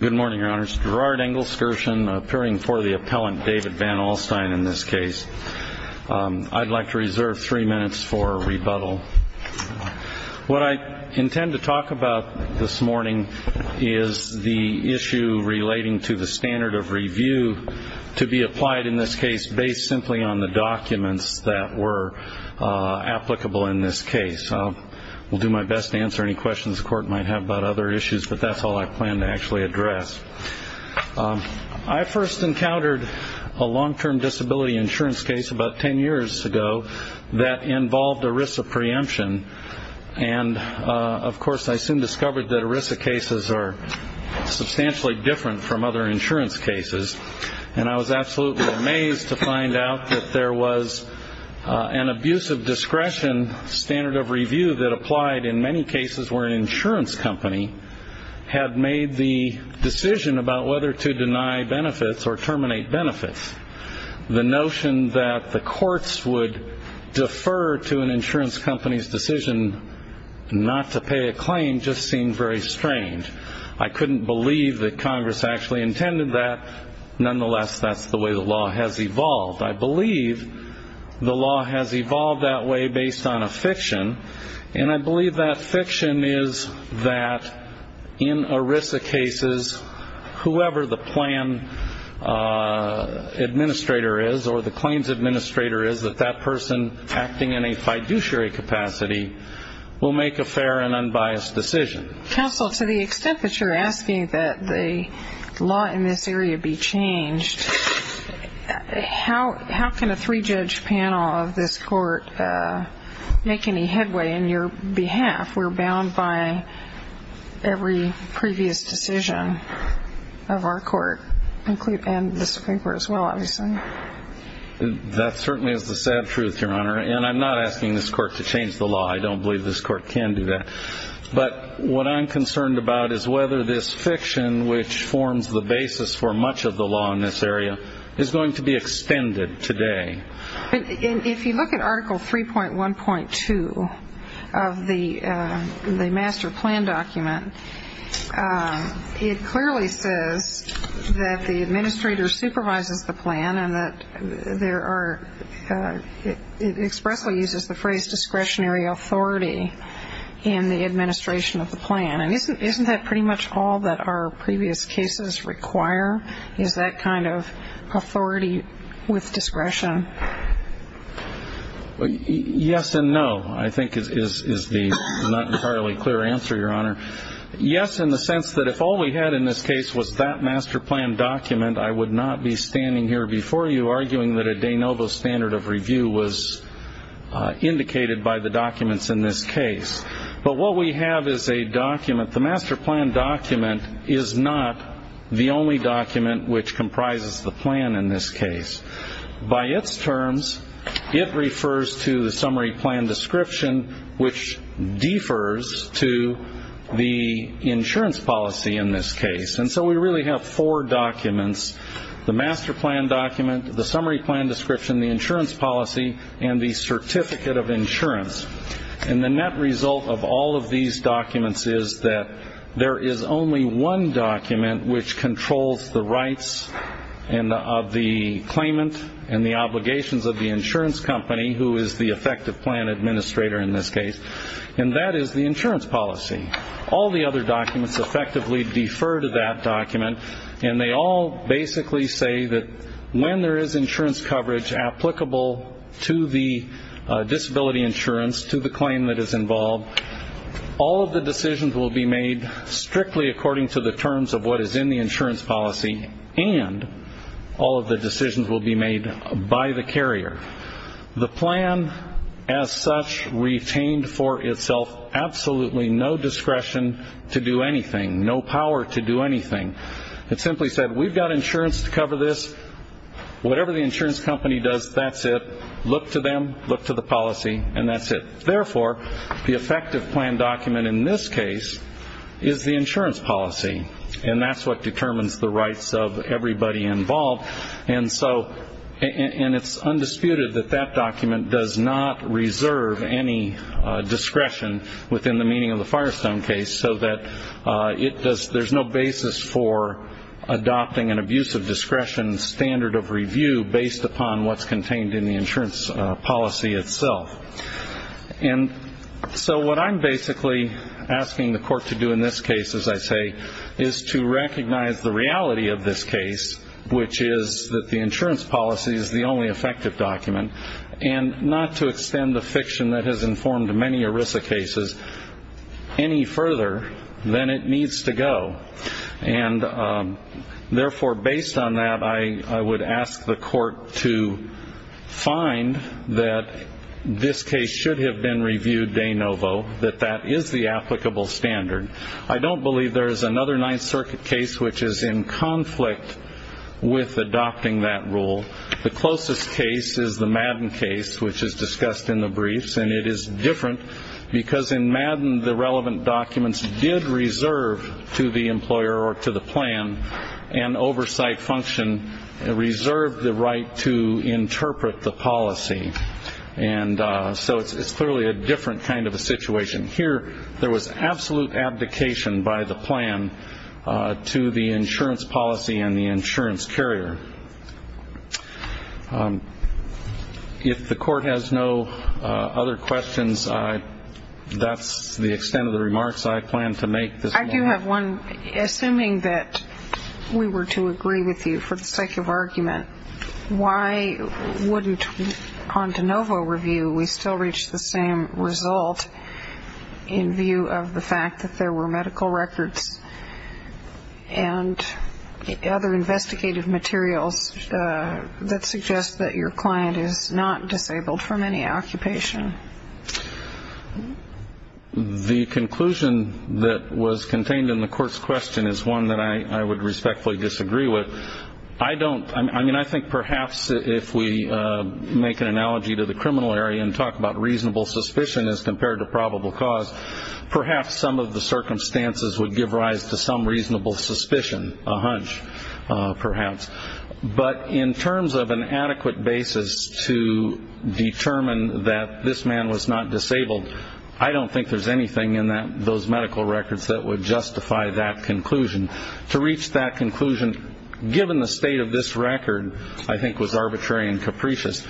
Good morning, Your Honors. Gerard Engelskirchen, appearing for the appellant David Van Alstine in this case. I'd like to reserve three minutes for rebuttal. What I intend to talk about this morning is the issue relating to the standard of review to be applied in this case based simply on the documents that were applicable in this case. I'll do my best to answer any questions you may have about other issues, but that's all I plan to actually address. I first encountered a long-term disability insurance case about ten years ago that involved ERISA preemption. And, of course, I soon discovered that ERISA cases are substantially different from other insurance cases. And I was absolutely amazed to find out that there was an abuse of discretion standard of review that applied in many cases where an insurance company had made the decision about whether to deny benefits or terminate benefits. The notion that the courts would defer to an insurance company's decision not to pay a claim just seemed very strange. I couldn't believe that Congress actually intended that. Nonetheless, that's the way the law has evolved. I believe the law has evolved that way based on a fiction. And I believe that fiction is that in ERISA cases, whoever the plan administrator is or the claims administrator is, that that person acting in a fiduciary capacity will make a fair and unbiased decision. Counsel, to the extent that you're asking that the law in this area be changed, how can a three-judge panel of this court make any headway in your behalf? We're bound by every previous decision of our court and the Supreme Court as well, obviously. That certainly is the sad truth, Your Honor. And I'm not asking this court to change the law. But what I'm concerned about is whether this fiction, which forms the basis for much of the law in this area, is going to be extended today. If you look at Article 3.1.2 of the master plan document, it clearly says that the administrator supervises the plan and that there are ‑‑ it expressly uses the phrase discretionary authority in the administration of the plan. And isn't that pretty much all that our previous cases require, is that kind of authority with discretion? Yes and no, I think is the not entirely clear answer, Your Honor. Yes, in the sense that if all we had in this case was that master plan document, I would not be standing here before you arguing that a de novo standard of review was indicated by the documents in this case. But what we have is a document. The master plan document is not the only document which comprises the plan in this case. By its terms, it refers to the summary plan description, which defers to the insurance policy in this case. And so we really have four documents. The master plan document, the summary plan description, the insurance policy, and the certificate of insurance. And the net result of all of these documents is that there is only one document which controls the rights of the claimant and the obligations of the insurance company, who is the effective plan administrator in this case. And that is the insurance policy. All the other documents effectively defer to that document and they all basically say that when there is insurance coverage applicable to the disability insurance, to the claim that is involved, all of the decisions will be made strictly according to the terms of what is in the insurance policy and all of the decisions will be made by the carrier. The plan as such retained for itself absolutely no discretion to do anything, no power to do anything. It simply said, we've got insurance to cover this. Whatever the insurance company does, that's it. Look to them, look to the policy, and that's it. Therefore, the effective plan document in this case is the insurance policy. And that's what determines the rights of everybody involved. And so, and it's undisputed that that document does not reserve any discretion within the meaning of the Firestone case so that it does, there's no basis for adopting an abuse of discretion standard of review based upon what's contained in the insurance policy itself. And so what I'm basically asking the court to do in this case, as I say, is to recognize the reality of this case, which is that the insurance policy is the only effective document, and not to extend the fiction that has informed many ERISA cases any further than it needs to go. And therefore, based on that, I would ask the court to find that this case should have been reviewed de novo, that that is the applicable standard. I don't believe there is another Ninth Circuit case which is in this case. So the closest case is the Madden case, which is discussed in the briefs, and it is different because in Madden, the relevant documents did reserve to the employer or to the plan an oversight function, reserved the right to interpret the policy. And so it's clearly a different kind of a situation. Here, there was absolute abdication by the plan to the insurance policy and the insurance carrier. If the court has no other questions, that's the extent of the remarks I plan to make this morning. I do have one. Assuming that we were to agree with you for the sake of argument, why wouldn't on de novo review we still reach the same result in view of the fact that there were medical records and other investigative materials that suggest that your client is not disabled from any occupation? The conclusion that was contained in the court's question is one that I would respectfully disagree with. I don't, I mean, I think perhaps if we make an analogy to the criminal area and talk about reasonable suspicion as compared to probable cause, perhaps some of the circumstances would give rise to some reasonable suspicion, a hunch, perhaps. But in terms of an adequate basis to determine that this man was not disabled, I don't think there's anything in those medical records that would justify that conclusion. To reach that conclusion, given the state of this record, I think was arbitrary and capricious.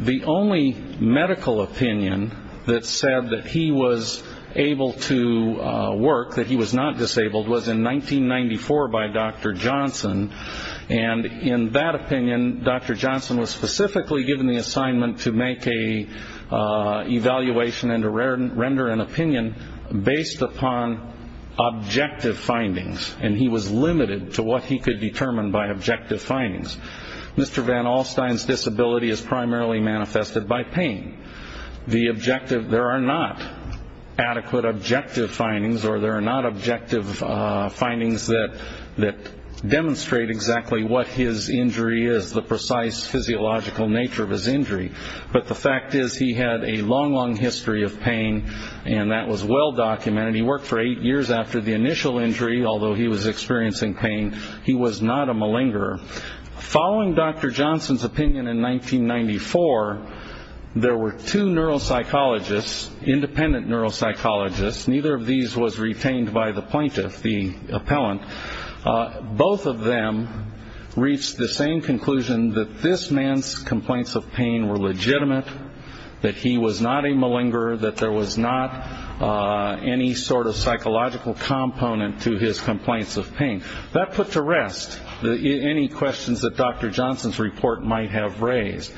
The only medical opinion that said that he was able to work, that he was not disabled, was in 1994 by Dr. Johnson. And in that opinion, Dr. Johnson was specifically given the assignment to make an evaluation and to render an opinion based upon objective findings. And he was limited to what he could determine by objective findings. Mr. Van Alstyne's disability is primarily manifested by pain. The objective, there are not adequate objective findings or there are not objective findings that demonstrate exactly what his injury is, the precise physiological nature of his injury. But the fact is he had a long, long history of pain and that was well documented. He worked for eight years after the initial injury, although he was experiencing pain. He was not a malingerer. Following Dr. Johnson's opinion in 1994, there were two neuropsychologists, independent neuropsychologists, neither of these was retained by the plaintiff, the appellant. Both of them reached the same conclusion that this man's complaints of pain were legitimate, that he was not a malingerer, that there was not any sort of psychological component to his complaints of pain. That put to rest any questions that Dr. Johnson's report might have raised.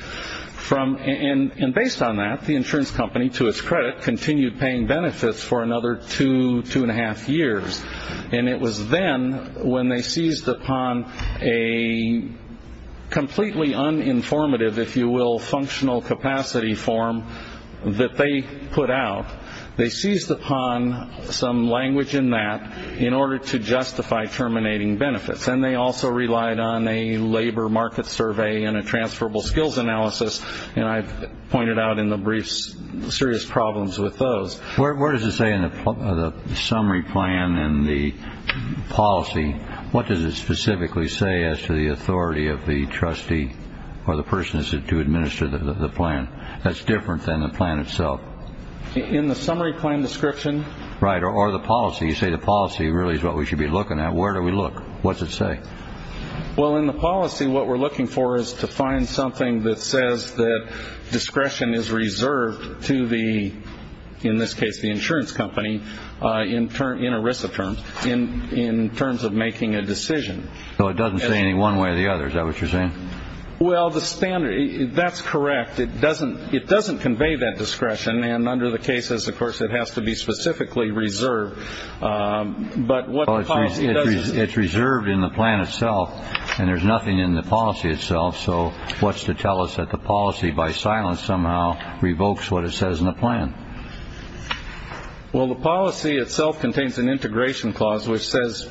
And based on that, the insurance company, to its credit, continued paying benefits for another two, two and a half years. And it was then when they seized upon a completely uninformative, if you will, functional capacity form that they put out, they seized upon some language in that in order to justify terminating benefits. And they also relied on a labor market survey and a transferable skills analysis. And I've pointed out in the briefs serious problems with those. Where does it say in the summary plan and the policy, what does it specifically say as to the authority of the trustee or the person to administer the plan? That's different than the plan itself. In the summary plan description? Right. Or the policy. You say the policy really is what we should be looking at. Where do we look? What's it say? Well, in the policy, what we're looking for is to find something that says that discretion is reserved to the, in this case, the insurance company, in ERISA terms, in terms of making a decision. So it doesn't say any one way or the other. Is that what you're saying? Well, the standard, that's correct. It doesn't convey that discretion. And under the cases, of course, it has to be specifically reserved. But what the policy does... It's reserved in the plan itself. And there's nothing in the policy itself. So what's to tell us that the policy, by silence somehow, revokes what it says in the plan? Well, the policy itself contains an integration clause, which says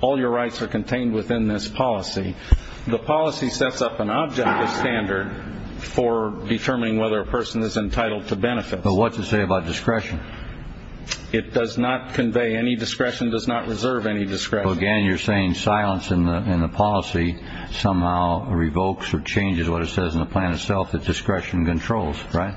all your rights are contained within this policy. The policy sets up an objective standard for determining whether a person is entitled to benefit. But what's it say about discretion? It does not convey. Any discretion does not reserve any discretion. Again, you're saying silence in the policy somehow revokes or changes what it says in the plan itself, that discretion controls, right?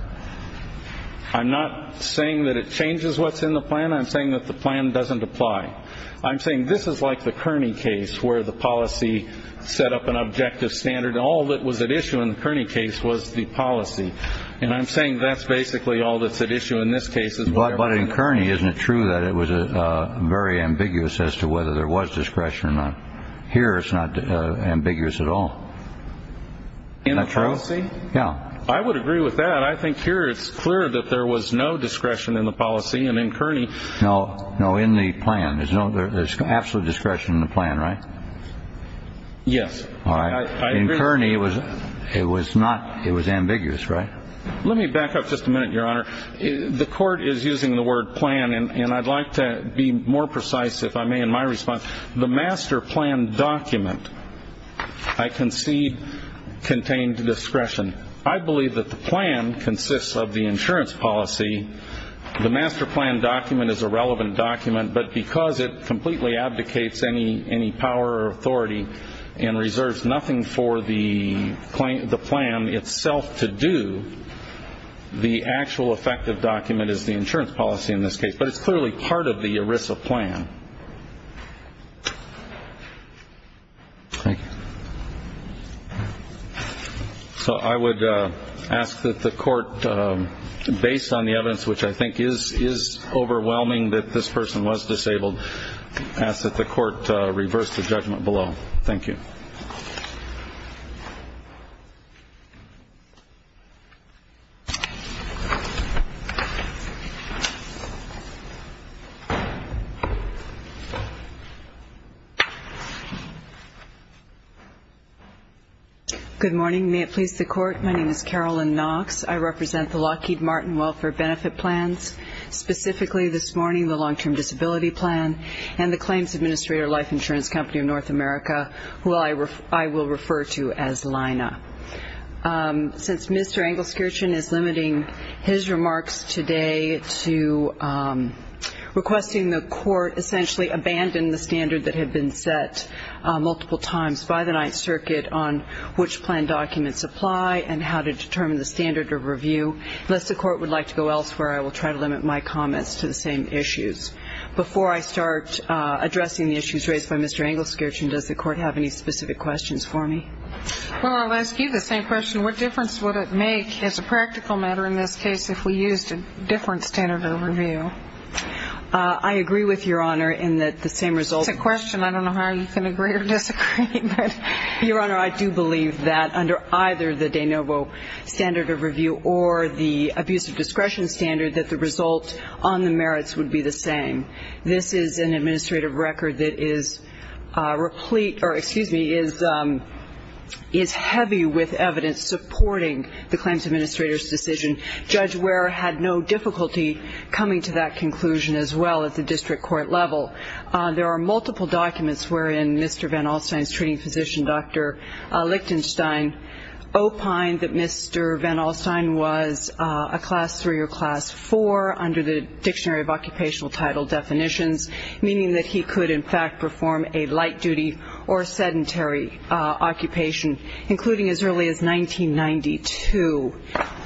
I'm not saying that it changes what's in the plan. I'm saying that the plan doesn't apply. I'm saying this is like the Kearney case, where the policy set up an objective standard. And all that was at issue in the Kearney case was the policy. And I'm saying that's basically all that's at issue in this case is whatever... But in Kearney, isn't it true that it was very ambiguous as to whether there was discretion or not? Here, it's not ambiguous at all. In the policy? Isn't that true? Yeah. I would agree with that. I think here it's clear that there was no discretion in the policy. And in Kearney... No. No, in the plan. There's no... There's absolute discretion in the plan, right? Yes. All right. I agree. In Kearney, it was not... It was ambiguous, right? Let me back up just a minute, Your Honor. The court is using the word plan, and I'd like to be more precise, if I may, in my response. The master plan document, I concede, contained discretion. I believe that the plan consists of the insurance policy. The master plan document is a relevant document, but because it completely abdicates any power or authority and reserves nothing for the plan itself to do, the actual effective document is the insurance policy in this case. But it's clearly part of the ERISA plan. Thank you. So I would ask that the court, based on the evidence, which I think is overwhelming that this person was disabled, ask that the court reverse the judgment below. Thank you. Good morning. May it please the court, my name is Carolyn Knox. I represent the Lockheed Martin Welfare Benefit Plans, specifically this morning the Long-Term Disability Plan and the Claims Administrator Life Insurance Company of North America, who I will refer to as LINA. Since Mr. Engelskirchen is limiting his remarks today to requesting the court essentially abandon the standard that had been set multiple times by the Ninth Circuit on which plan documents apply and how to determine the standard of review, unless the court would like to go elsewhere, I will try to limit my comments to the same issues. Before I start addressing the issues raised by Mr. Engelskirchen, does the court have any specific questions for me? Well, I'll ask you the same question. What difference would it make as a practical matter in this case if we used a different standard of review? I agree with Your Honor in that the same result It's a question. I don't know how you can agree or disagree. Your Honor, I do believe that under either the de novo standard of review or the abuse of discretion standard that the result on the merits would be the same. This is an administrative record that is heavy with evidence supporting the Claims Administrator's decision. Judge Ware had no difficulty coming to that conclusion as well at the district court level. There are multiple documents wherein Mr. Van Alstyne's treating physician, Dr. Lichtenstein, opined that Mr. Van Alstyne was a class three or class four under the dictionary of occupational title definitions, meaning that he could in fact perform a light duty or sedentary occupation, including as early as 1992.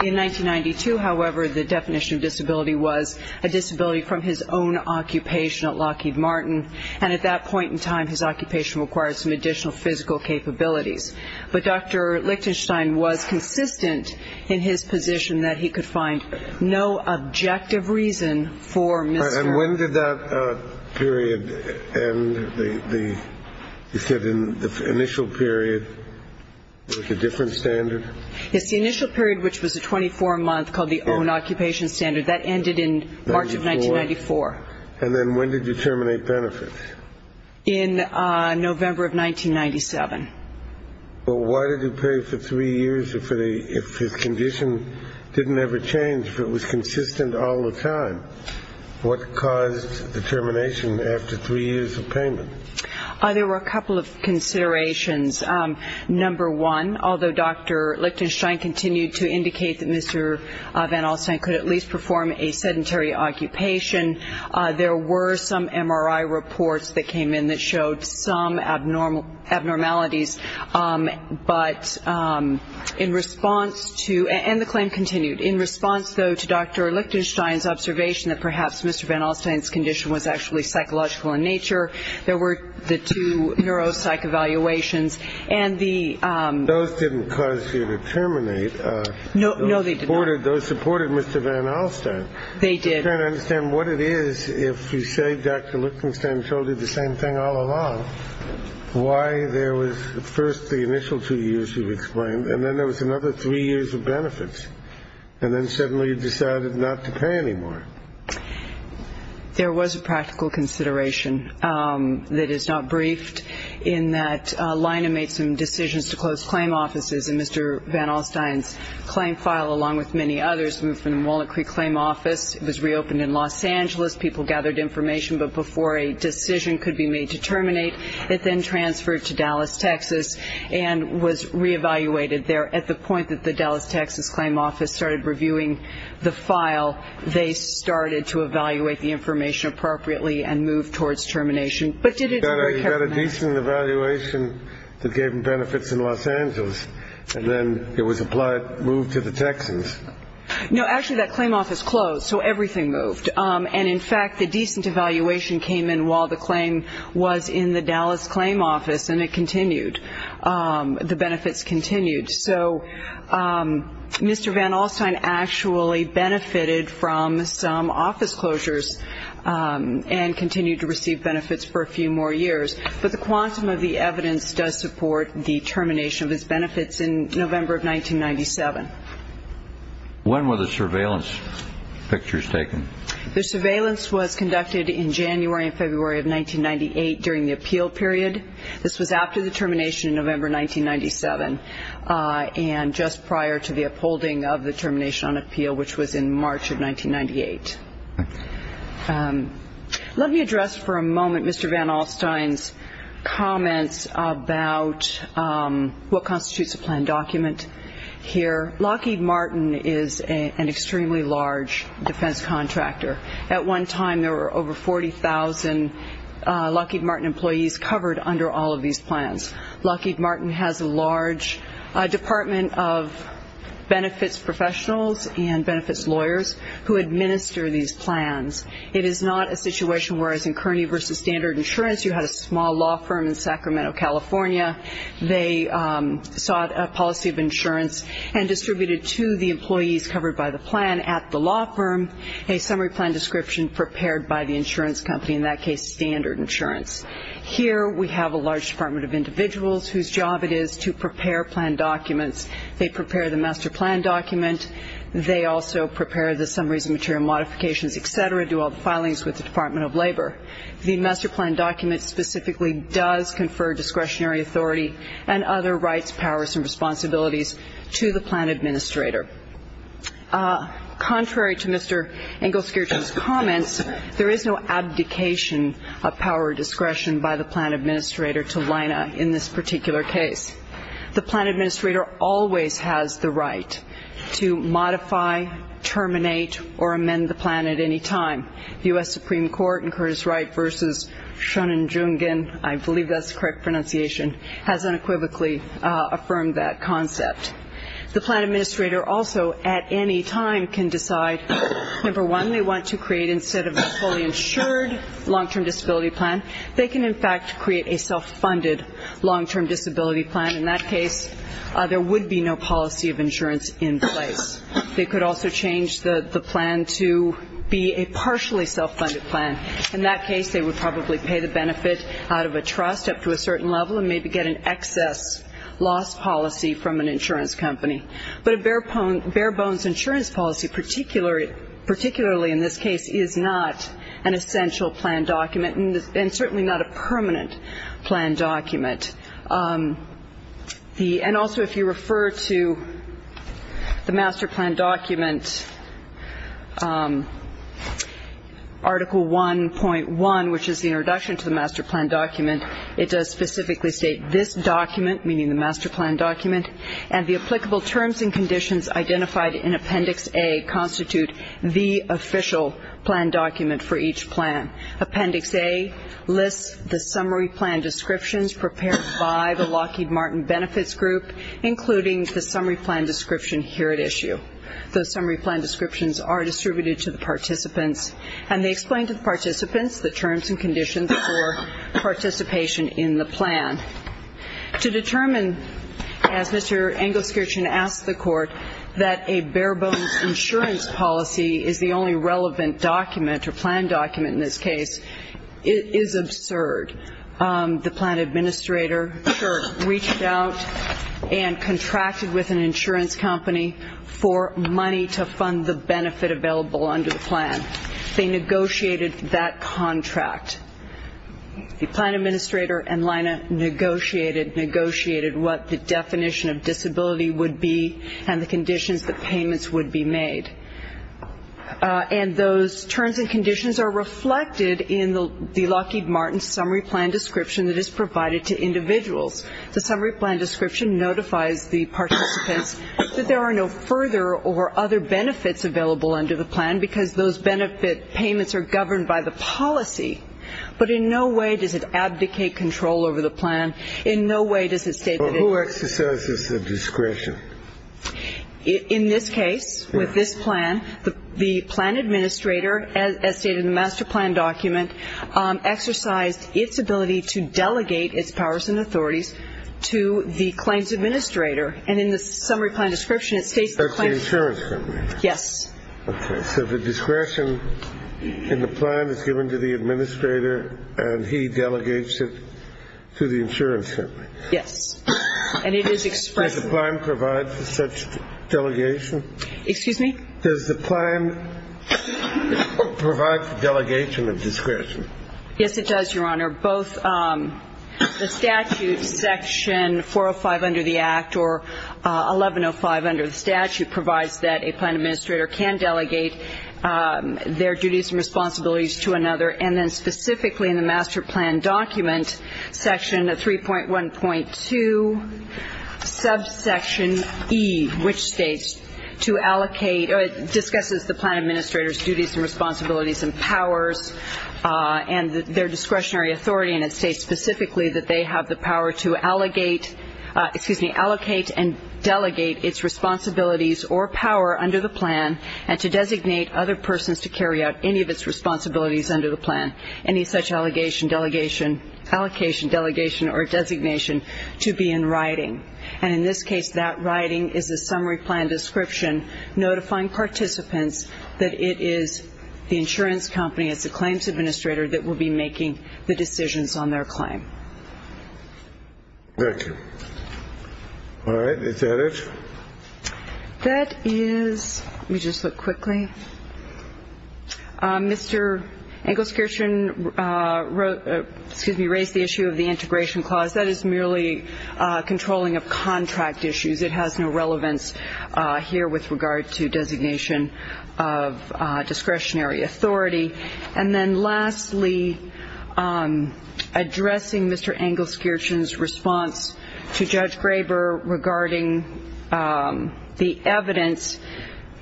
In 1992, however, the definition of disability was a disability from his own occupation at Lockheed Martin, and at that point in time, his occupation required some additional physical capabilities. But Dr. Lichtenstein was consistent in his position that he could find no objective reason for Mr. Van Alstyne's treatment. And when did that period end? You said the initial period was a different standard? Yes, the initial period, which was a 24-month called the own occupation standard, that ended in March of 1994. And then when did you terminate benefits? In November of 1997. Well, why did he pay for three years if his condition didn't ever change, if it was consistent all the time? What caused the termination after three years of payment? There were a couple of considerations. Number one, although Dr. Lichtenstein continued to indicate that Mr. Van Alstyne could at least perform a sedentary occupation, there were some MRI reports that came in that showed some abnormalities. But in response to, and the claim continued, in response, though, to Dr. Lichtenstein's observation that perhaps Mr. Van Alstyne's condition was actually psychological in nature, there were the two neuropsych evaluations, and the Those didn't cause you to terminate. No, they did not. Those supported Mr. Van Alstyne. They did. I'm trying to understand what it is if you say Dr. Lichtenstein told you the same thing all along, why there was first the initial two years you explained, and then there was another three years of benefits, and then suddenly you decided not to pay anymore. There was a practical consideration that is not briefed, in that Lina made some decisions to close claim offices, and Mr. Van Alstyne's claim file, along with many others, moved from the Walnut Creek claim office. It was reopened in Los Angeles. People gathered information, but before a decision could be made to terminate, it then transferred to Dallas, Texas, and was re-evaluated there. At the point that the Dallas, Texas, claim office started reviewing the file, they started to evaluate the information appropriately and move towards termination. But did it You got a decent evaluation that gave them benefits in Los Angeles, and then it was moved to the Texans. No, actually, that claim office closed, so everything moved. And, in fact, the decent evaluation came in while the claim was in the Dallas claim office, and it continued. The benefits continued. So Mr. Van Alstyne actually benefited from some office closures and continued to receive benefits for a few more years. But the quantum of the evidence does support the termination of his benefits in November of 1997. When were the surveillance pictures taken? The surveillance was conducted in January and February of 1998 during the appeal period. This was after the termination in November 1997 and just prior to the upholding of the termination on appeal, which was in March of 1998. Let me address for a moment Mr. Van Alstyne's comments about what constitutes a planned document here. Lockheed Martin is an extremely large defense contractor. At one time there were over 40,000 Lockheed Martin employees covered under all of these plans. Lockheed Martin has a large department of benefits professionals and benefits lawyers who administer these plans. It is not a situation where, as in Kearney v. Standard Insurance, you had a small law firm in Sacramento, California. They sought a policy of insurance and distributed to the employees covered by the plan at the law firm a summary plan description prepared by the insurance company, in that case Standard Insurance. Here we have a large department of individuals whose job it is to prepare planned documents. They prepare the master plan document. They also prepare the summaries and material modifications, et cetera, to all the filings with the Department of Labor. The master plan document specifically does confer discretionary authority and other rights, powers, and responsibilities to the plan administrator. Contrary to Mr. Engelskirchen's comments, there is no abdication of power or discretion by the plan administrator to line up in this particular case. The plan administrator always has the right to modify, terminate, or amend the plan at any time. The U.S. Supreme Court in Curtis Wright v. Shonin Jungin, I believe that is the correct pronunciation, has unequivocally affirmed that concept. The plan administrator also at any time can decide, number one, they want to create instead of a fully insured long-term disability plan, they can in fact create a self-funded long-term disability plan. In that case, there would be no policy of insurance in place. They could also change the plan to be a partially self-funded plan. In that case, they would probably pay the benefit out of a trust up to a certain level and maybe get an excess loss policy from an insurance company. But a bare bones insurance policy, particularly in this case, is not an essential planned document. And also if you refer to the master plan document, Article 1.1, which is the introduction to the master plan document, it does specifically state this document, meaning the master plan document, and the applicable terms and conditions identified in Appendix A constitute the official plan document for each plan. Appendix A lists the summary plan descriptions prepared by the Lockheed Martin Benefits Group, including the summary plan description here at issue. Those summary plan descriptions are distributed to the participants and they explain to the participants the terms and conditions for participation in the plan. To determine, as Mr. Engelskirchen asked the court, that a bare bones insurance policy is the only relevant document or planned document in this case, is absurd. The plan administrator reached out and contracted with an insurance company for money to fund the benefit available under the plan. They negotiated that contract. The plan administrator and Lina negotiated, negotiated what the definition of disability would be and the conditions that payments would be made. And those terms and conditions are reflected in the Lockheed Martin summary plan description that is provided to individuals. The summary plan description notifies the participants that there are no further or other benefits available under the plan because those benefit payments are governed by the policy. But in no way does it abdicate control over the plan. In no way does it state that it exercises the discretion. In this case, with this plan, the plan administrator, as stated in the master plan document, exercised its ability to delegate its powers and authorities to the claims administrator. And in the summary plan description, it states that the insurance company, yes, okay, so the discretion in the plan is given to the administrator and he delegates it to the insurance company. Yes. And it is expressed. Does the plan provide for such delegation? Excuse me? Does the plan provide for delegation of discretion? Yes, it does, Your Honor. Both the statute section 405 under the Act or 1105 under the statute provides that a plan administrator can delegate their duties and responsibilities to another and then specifically in the master plan document section 3.1.2 subsection E, which states to allocate or discusses the plan administrator's duties and responsibilities and powers and their discretionary authority. And it states specifically that they have the power to allocate and delegate its responsibilities or power under the plan and to designate other responsibilities under the plan, any such allocation, delegation or designation to be in writing. And in this case, that writing is the summary plan description notifying participants that it is the insurance company, it's the claims administrator that will be making the decisions on their claim. Thank you. All right. Is that it? That is, let me just look quickly. Mr. Engelskirchen, excuse me, raised the issue of the integration clause. That is merely controlling of contract issues. It has no relevance here with regard to designation of discretionary authority. And then lastly, addressing Mr. Engelskirchen's response to Judge Graber regarding the evidence,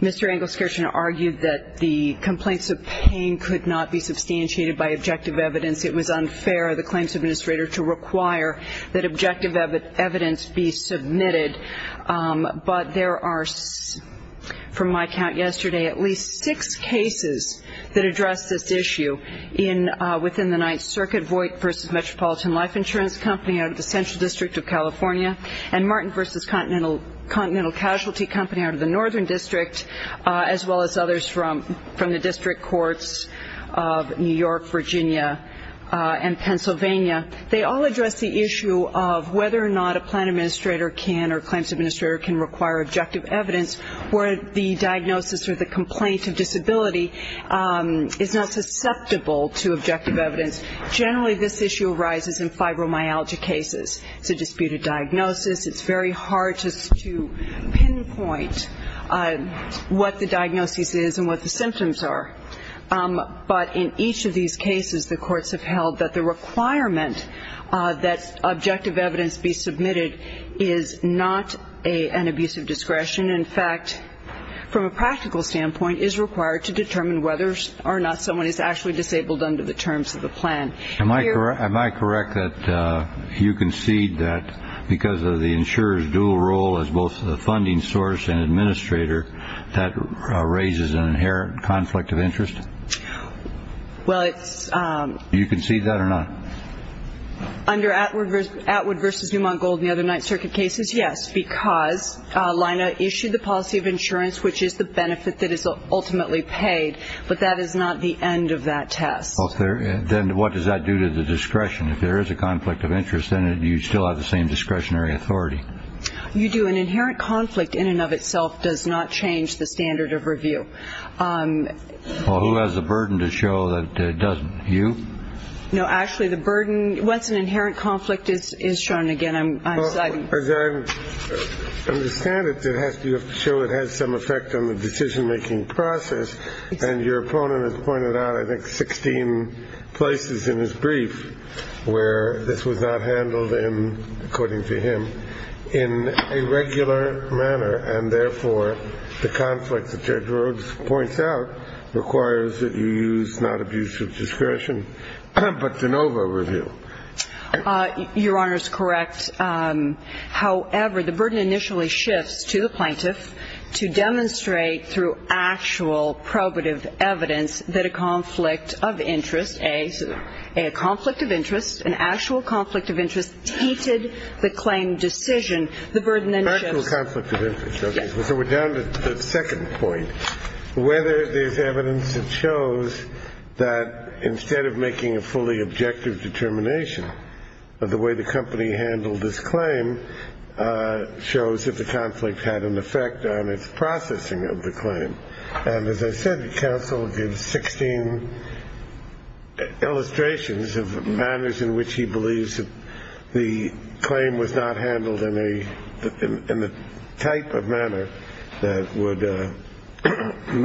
Mr. Engelskirchen argued that the complaints of pain could not be substantiated by objective evidence. It was unfair of the claims administrator to require that objective evidence be submitted. But there are, from my count yesterday, at least six cases that address this issue in, within the Ninth Circuit, Voight v. Metropolitan Life Insurance Company out of the Central District of California, and Martin v. Continental Casualty Company out of the Northern District, as well as others from the district courts of New York, Virginia, and Pennsylvania. They all address the issue of whether or not a plan administrator can or claims administrator can require objective evidence where the diagnosis or the complaint of disability is not susceptible to objective evidence. Generally this issue arises in fibromyalgia cases. It's a disputed diagnosis. It's very hard to pinpoint what the diagnosis is and what the symptoms are. But in each of these cases the courts have held that the requirement that objective evidence be submitted is not an abuse of discretion. In fact, from a practical standpoint, is required to determine whether or not someone is actually disabled under the terms of the plan. Am I correct that you concede that because of the insurer's dual role as both the funding source and administrator, that raises an inherent conflict of interest? Well, it's... You concede that or not? Under Atwood v. Newmont Gold and the other Ninth Circuit cases, yes, because Lina issued the policy of insurance, which is the benefit that is ultimately paid. But that is not the end of that test. Then what does that do to the discretion? If there is a conflict of interest, then you still have the same discretionary authority. You do. An inherent conflict in and of itself does not change the standard of review. Well, who has the burden to show that it doesn't? You? No, actually the burden... What's an inherent conflict is shown again. I'm citing... Well, as I understand it, you have to show it has some effect on the decision-making process. And your opponent has pointed out, I think, 16 places in his brief where this was not handled in, according to him, in a regular manner. And therefore, the conflict that Judge Rhoades points out requires that you use not abuse of discretion, but de novo review. Your Honor is correct. However, the burden initially shifts to the plaintiff to demonstrate through actual probative evidence that a conflict of interest, a conflict of interest, an actual conflict of interest, tainted the claim decision. The burden then shifts... Actual conflict of interest. Okay. So we're down to the second point. Whether there's evidence that shows that instead of making a fully objective determination of the way the company handled this claim shows that the conflict had an effect on its processing of the claim. And as I said, counsel gives 16 illustrations of manners in which he believes that the claim was not handled in a type of manner that would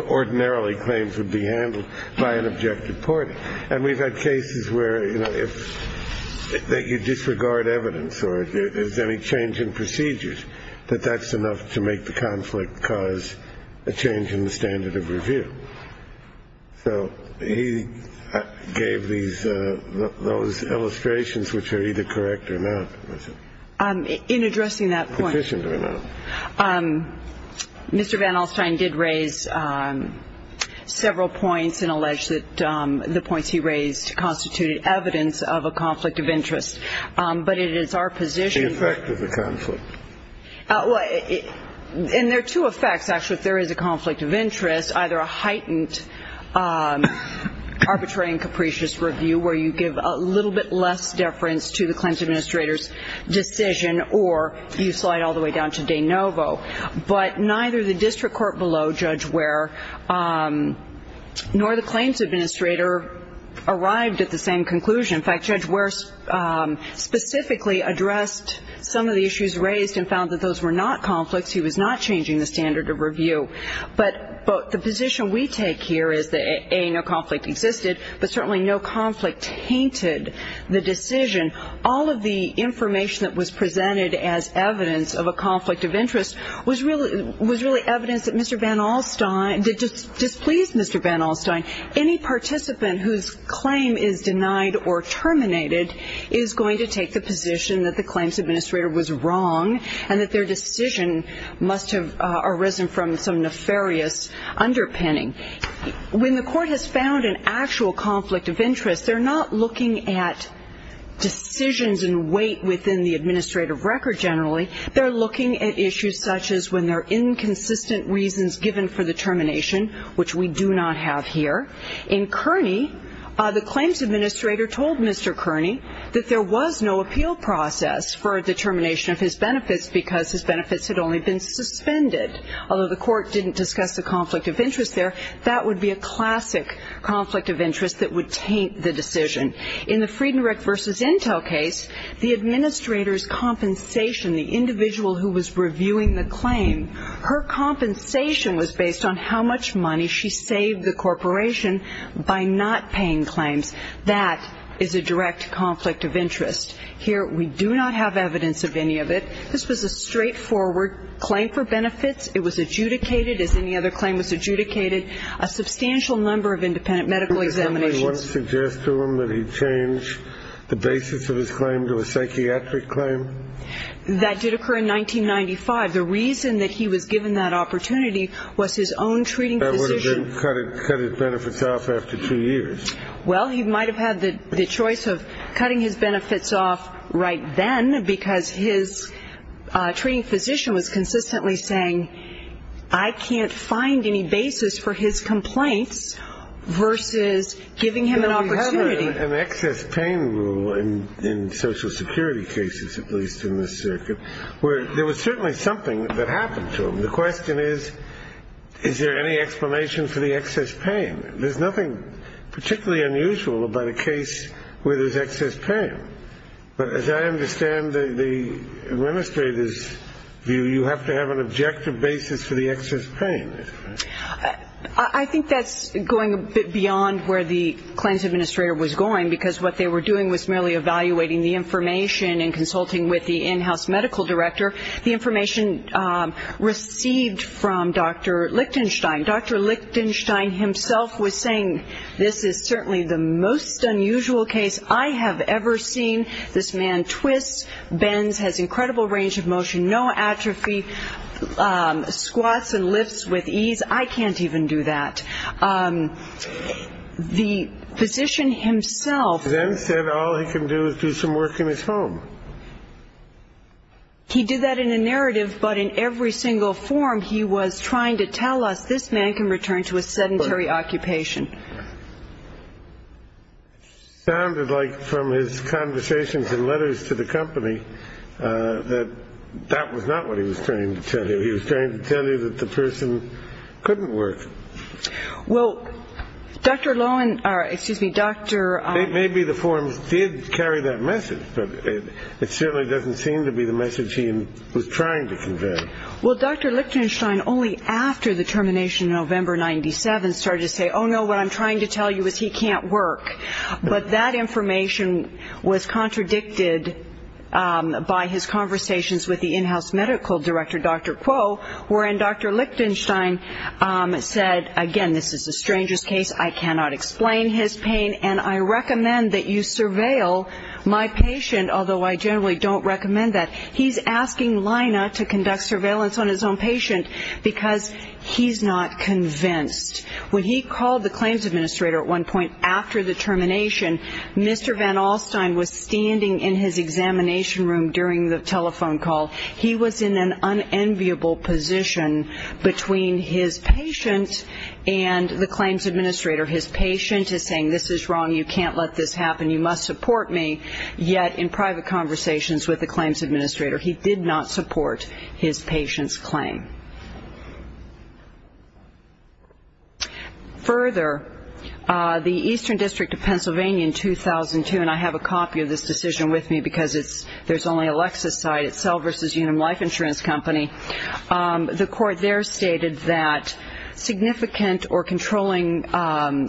ordinarily claims would be handled by an objective party. And we've had cases where, you know, if you disregard evidence or if there's any change in procedures, that that's enough to make the conflict cause a change in the standard of review. So he gave these, those illustrations which are either correct or not. In addressing that point, Mr. Van Alstyne did raise several points and allege that the points he raised constituted evidence of a conflict of interest. But it is our position... The effect of the conflict. And there are two effects, actually, if there is a conflict of interest, either a heightened arbitrary and capricious review where you give a little bit less deference to the claims administrator's decision or you slide all the way down to de novo. But neither the district court below Judge Ware nor the claims administrator arrived at the same conclusion. In fact, Judge Ware specifically addressed some of the issues raised and found that those were not conflicts. He was not changing the standard of review. But the position we take here is that, A, no conflict existed, but certainly no conflict tainted the decision. All of the information that was presented as evidence of a conflict of interest was really evidence that Mr. Van Alstyne, that displeased Mr. Van Alstyne. Any participant whose claim is denied or terminated is going to take the position that the claims administrator was wrong and that their decision must have arisen from some nefarious underpinning. When the court has found an actual conflict of interest, they're not looking at decisions and weight within the administrative record generally. They're looking at issues such as when there are inconsistent reasons given for the termination, which we do not have here. In Kearney, the claims administrator told Mr. Kearney that there was no appeal process for a determination of his benefits because his benefits had only been suspended. Although the court didn't discuss the conflict of interest there, that would be a classic conflict of interest that would taint the decision. In the Friedenreich v. Intel case, the administrator's compensation, the individual who was reviewing the claim, her compensation was based on how much money she saved the corporation by not paying claims. That is a direct conflict of interest. Here, we do not have evidence of any of it. This was a straightforward claim for benefits. It was adjudicated, as any other claim was adjudicated, a substantial number of independent medical examinations. Did somebody want to suggest to him that he change the basis of his claim to a psychiatric claim? That did occur in 1995. The reason that he was given that opportunity was his own treating physician. That would have cut his benefits off after two years. Well, he might have had the choice of cutting his benefits off right then because his treating physician was consistently saying, I can't find any basis for his complaints versus giving him an opportunity. We have an excess pain rule in social security cases, at least in this circuit, where there was certainly something that happened to him. The question is, is there any explanation for the excess pain? There's nothing particularly unusual about a case where there's excess pain. But as I understand the administrator's view, you have to have an objective basis for the excess pain. I think that's going a bit beyond where the claims administrator was going because what they were doing was merely evaluating the information and consulting with the in-house medical director. The information received from Dr. Lichtenstein. Dr. Lichtenstein himself was saying, this is certainly the most unusual case I have ever seen. This man twists, bends, has incredible range of motion, no atrophy, squats and lifts with ease. I can't even do that. The physician himself then said all he can do is do some work in his home. He did that in a narrative, but in every single form he was trying to tell us this man can return to a sedentary occupation. It sounded like from his conversations and letters to the company that that was not what he was trying to tell you. He was trying to tell you that the person couldn't work. Well, Dr. Lohan, excuse me, Dr. Maybe the forms did carry that message, but it certainly doesn't seem to be the message he was trying to convey. Well, Dr. Lichtenstein only after the termination in November 97 started to say, oh no, what I'm trying to tell you is he can't work. But that information was contradicted by his conversations with the in-house medical director, Dr. Kuo, wherein Dr. Lichtenstein said, again, this is a stranger's case, I cannot explain his pain, and I recommend that you surveil my patient, although I generally don't recommend that. He's asking Lina to conduct surveillance on his own patient because he's not convinced. When he called the claims administrator at one point after the termination, Mr. Van Alstyne was standing in his examination room during the telephone call. He was in an unenviable position between his patient and the claims administrator. His patient is saying this is wrong, you can't let this happen, you must support me, yet in private conversations with the claims administrator, he did not support his patient's claim. Further, the Eastern District of Pennsylvania in 2002, and I have a copy of this decision with me because there's only Alexa's side, it's Cell v. Unum Life Insurance Company, the court there stated that significant or controlling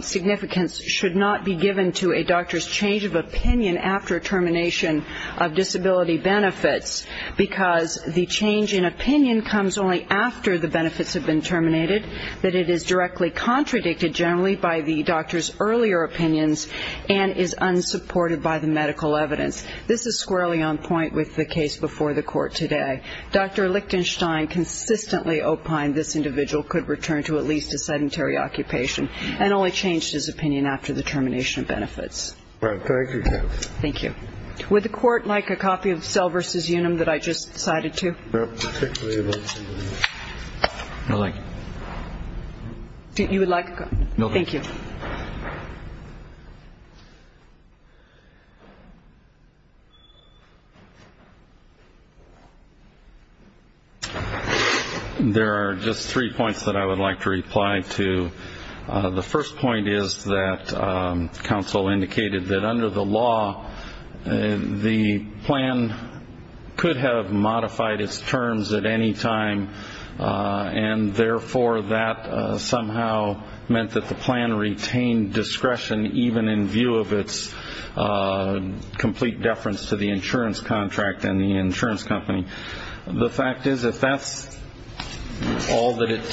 significance should not be given to a doctor's change of opinion after termination of disability benefits because the change in opinion comes only after the benefits have been terminated, that it is directly contradicted generally by the doctor's earlier opinions and is unsupported by the medical evidence. This is squarely on point with the case before the court today. Dr. Lichtenstein consistently opined this individual could return to at least a sedentary occupation and only changed his opinion after the termination of benefits. Thank you. Thank you. Would the court like a copy of Cell v. Unum that I just cited to? No, thank you. You would like a copy? No, thank you. Thank you. There are just three points that I would like to reply to. The first point is that counsel indicated that under the law, the plan could have modified its terms at any time and therefore that somehow meant that the plan retained discretion even in view of its complete deference to the insurance contract and the insurance company. The fact is if that's all that it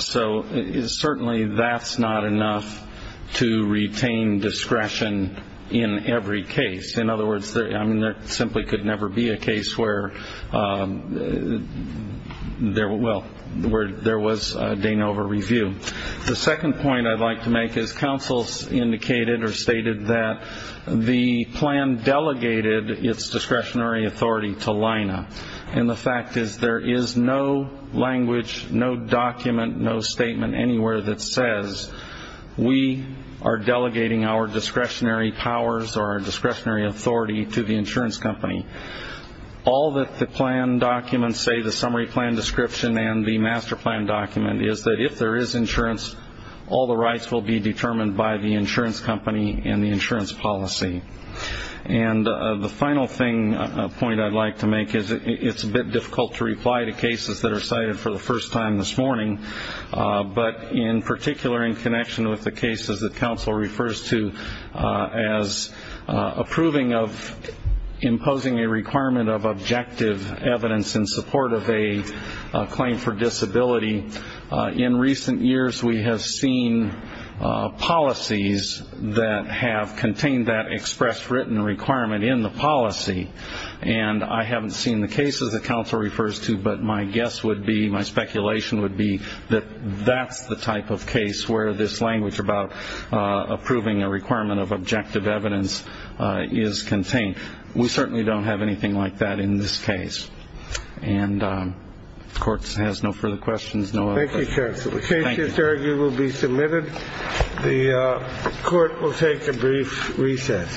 So certainly that's not enough to retain discretion in every case. In other words, there simply could never be a case where there was a Danova review. The second point I'd like to make is counsel indicated or stated that the plan delegated its discretionary authority to LINA. And the fact is there is no language, no document, no statement anywhere that says we are delegating our discretionary powers or our discretionary authority to the insurance company. All that the plan documents say, the summary plan description and the master plan document, is that if there is insurance, all the rights will be determined by the insurance company and the insurance policy. And the final point I'd like to make is it's a bit difficult to reply to cases that are cited for the first time this morning, but in particular in connection with the cases that counsel refers to as approving of imposing a requirement of objective evidence in support of a claim for disability, in recent years we have seen policies that have contained that expressed written requirement in the policy. And I haven't seen the cases that counsel refers to, but my guess would be, my speculation would be that that's the type of case where this language about approving a requirement of objective evidence is contained. We certainly don't have anything like that in this case. And the court has no further questions. Thank you, counsel. The case, it's argued, will be submitted. The court will take a brief recess.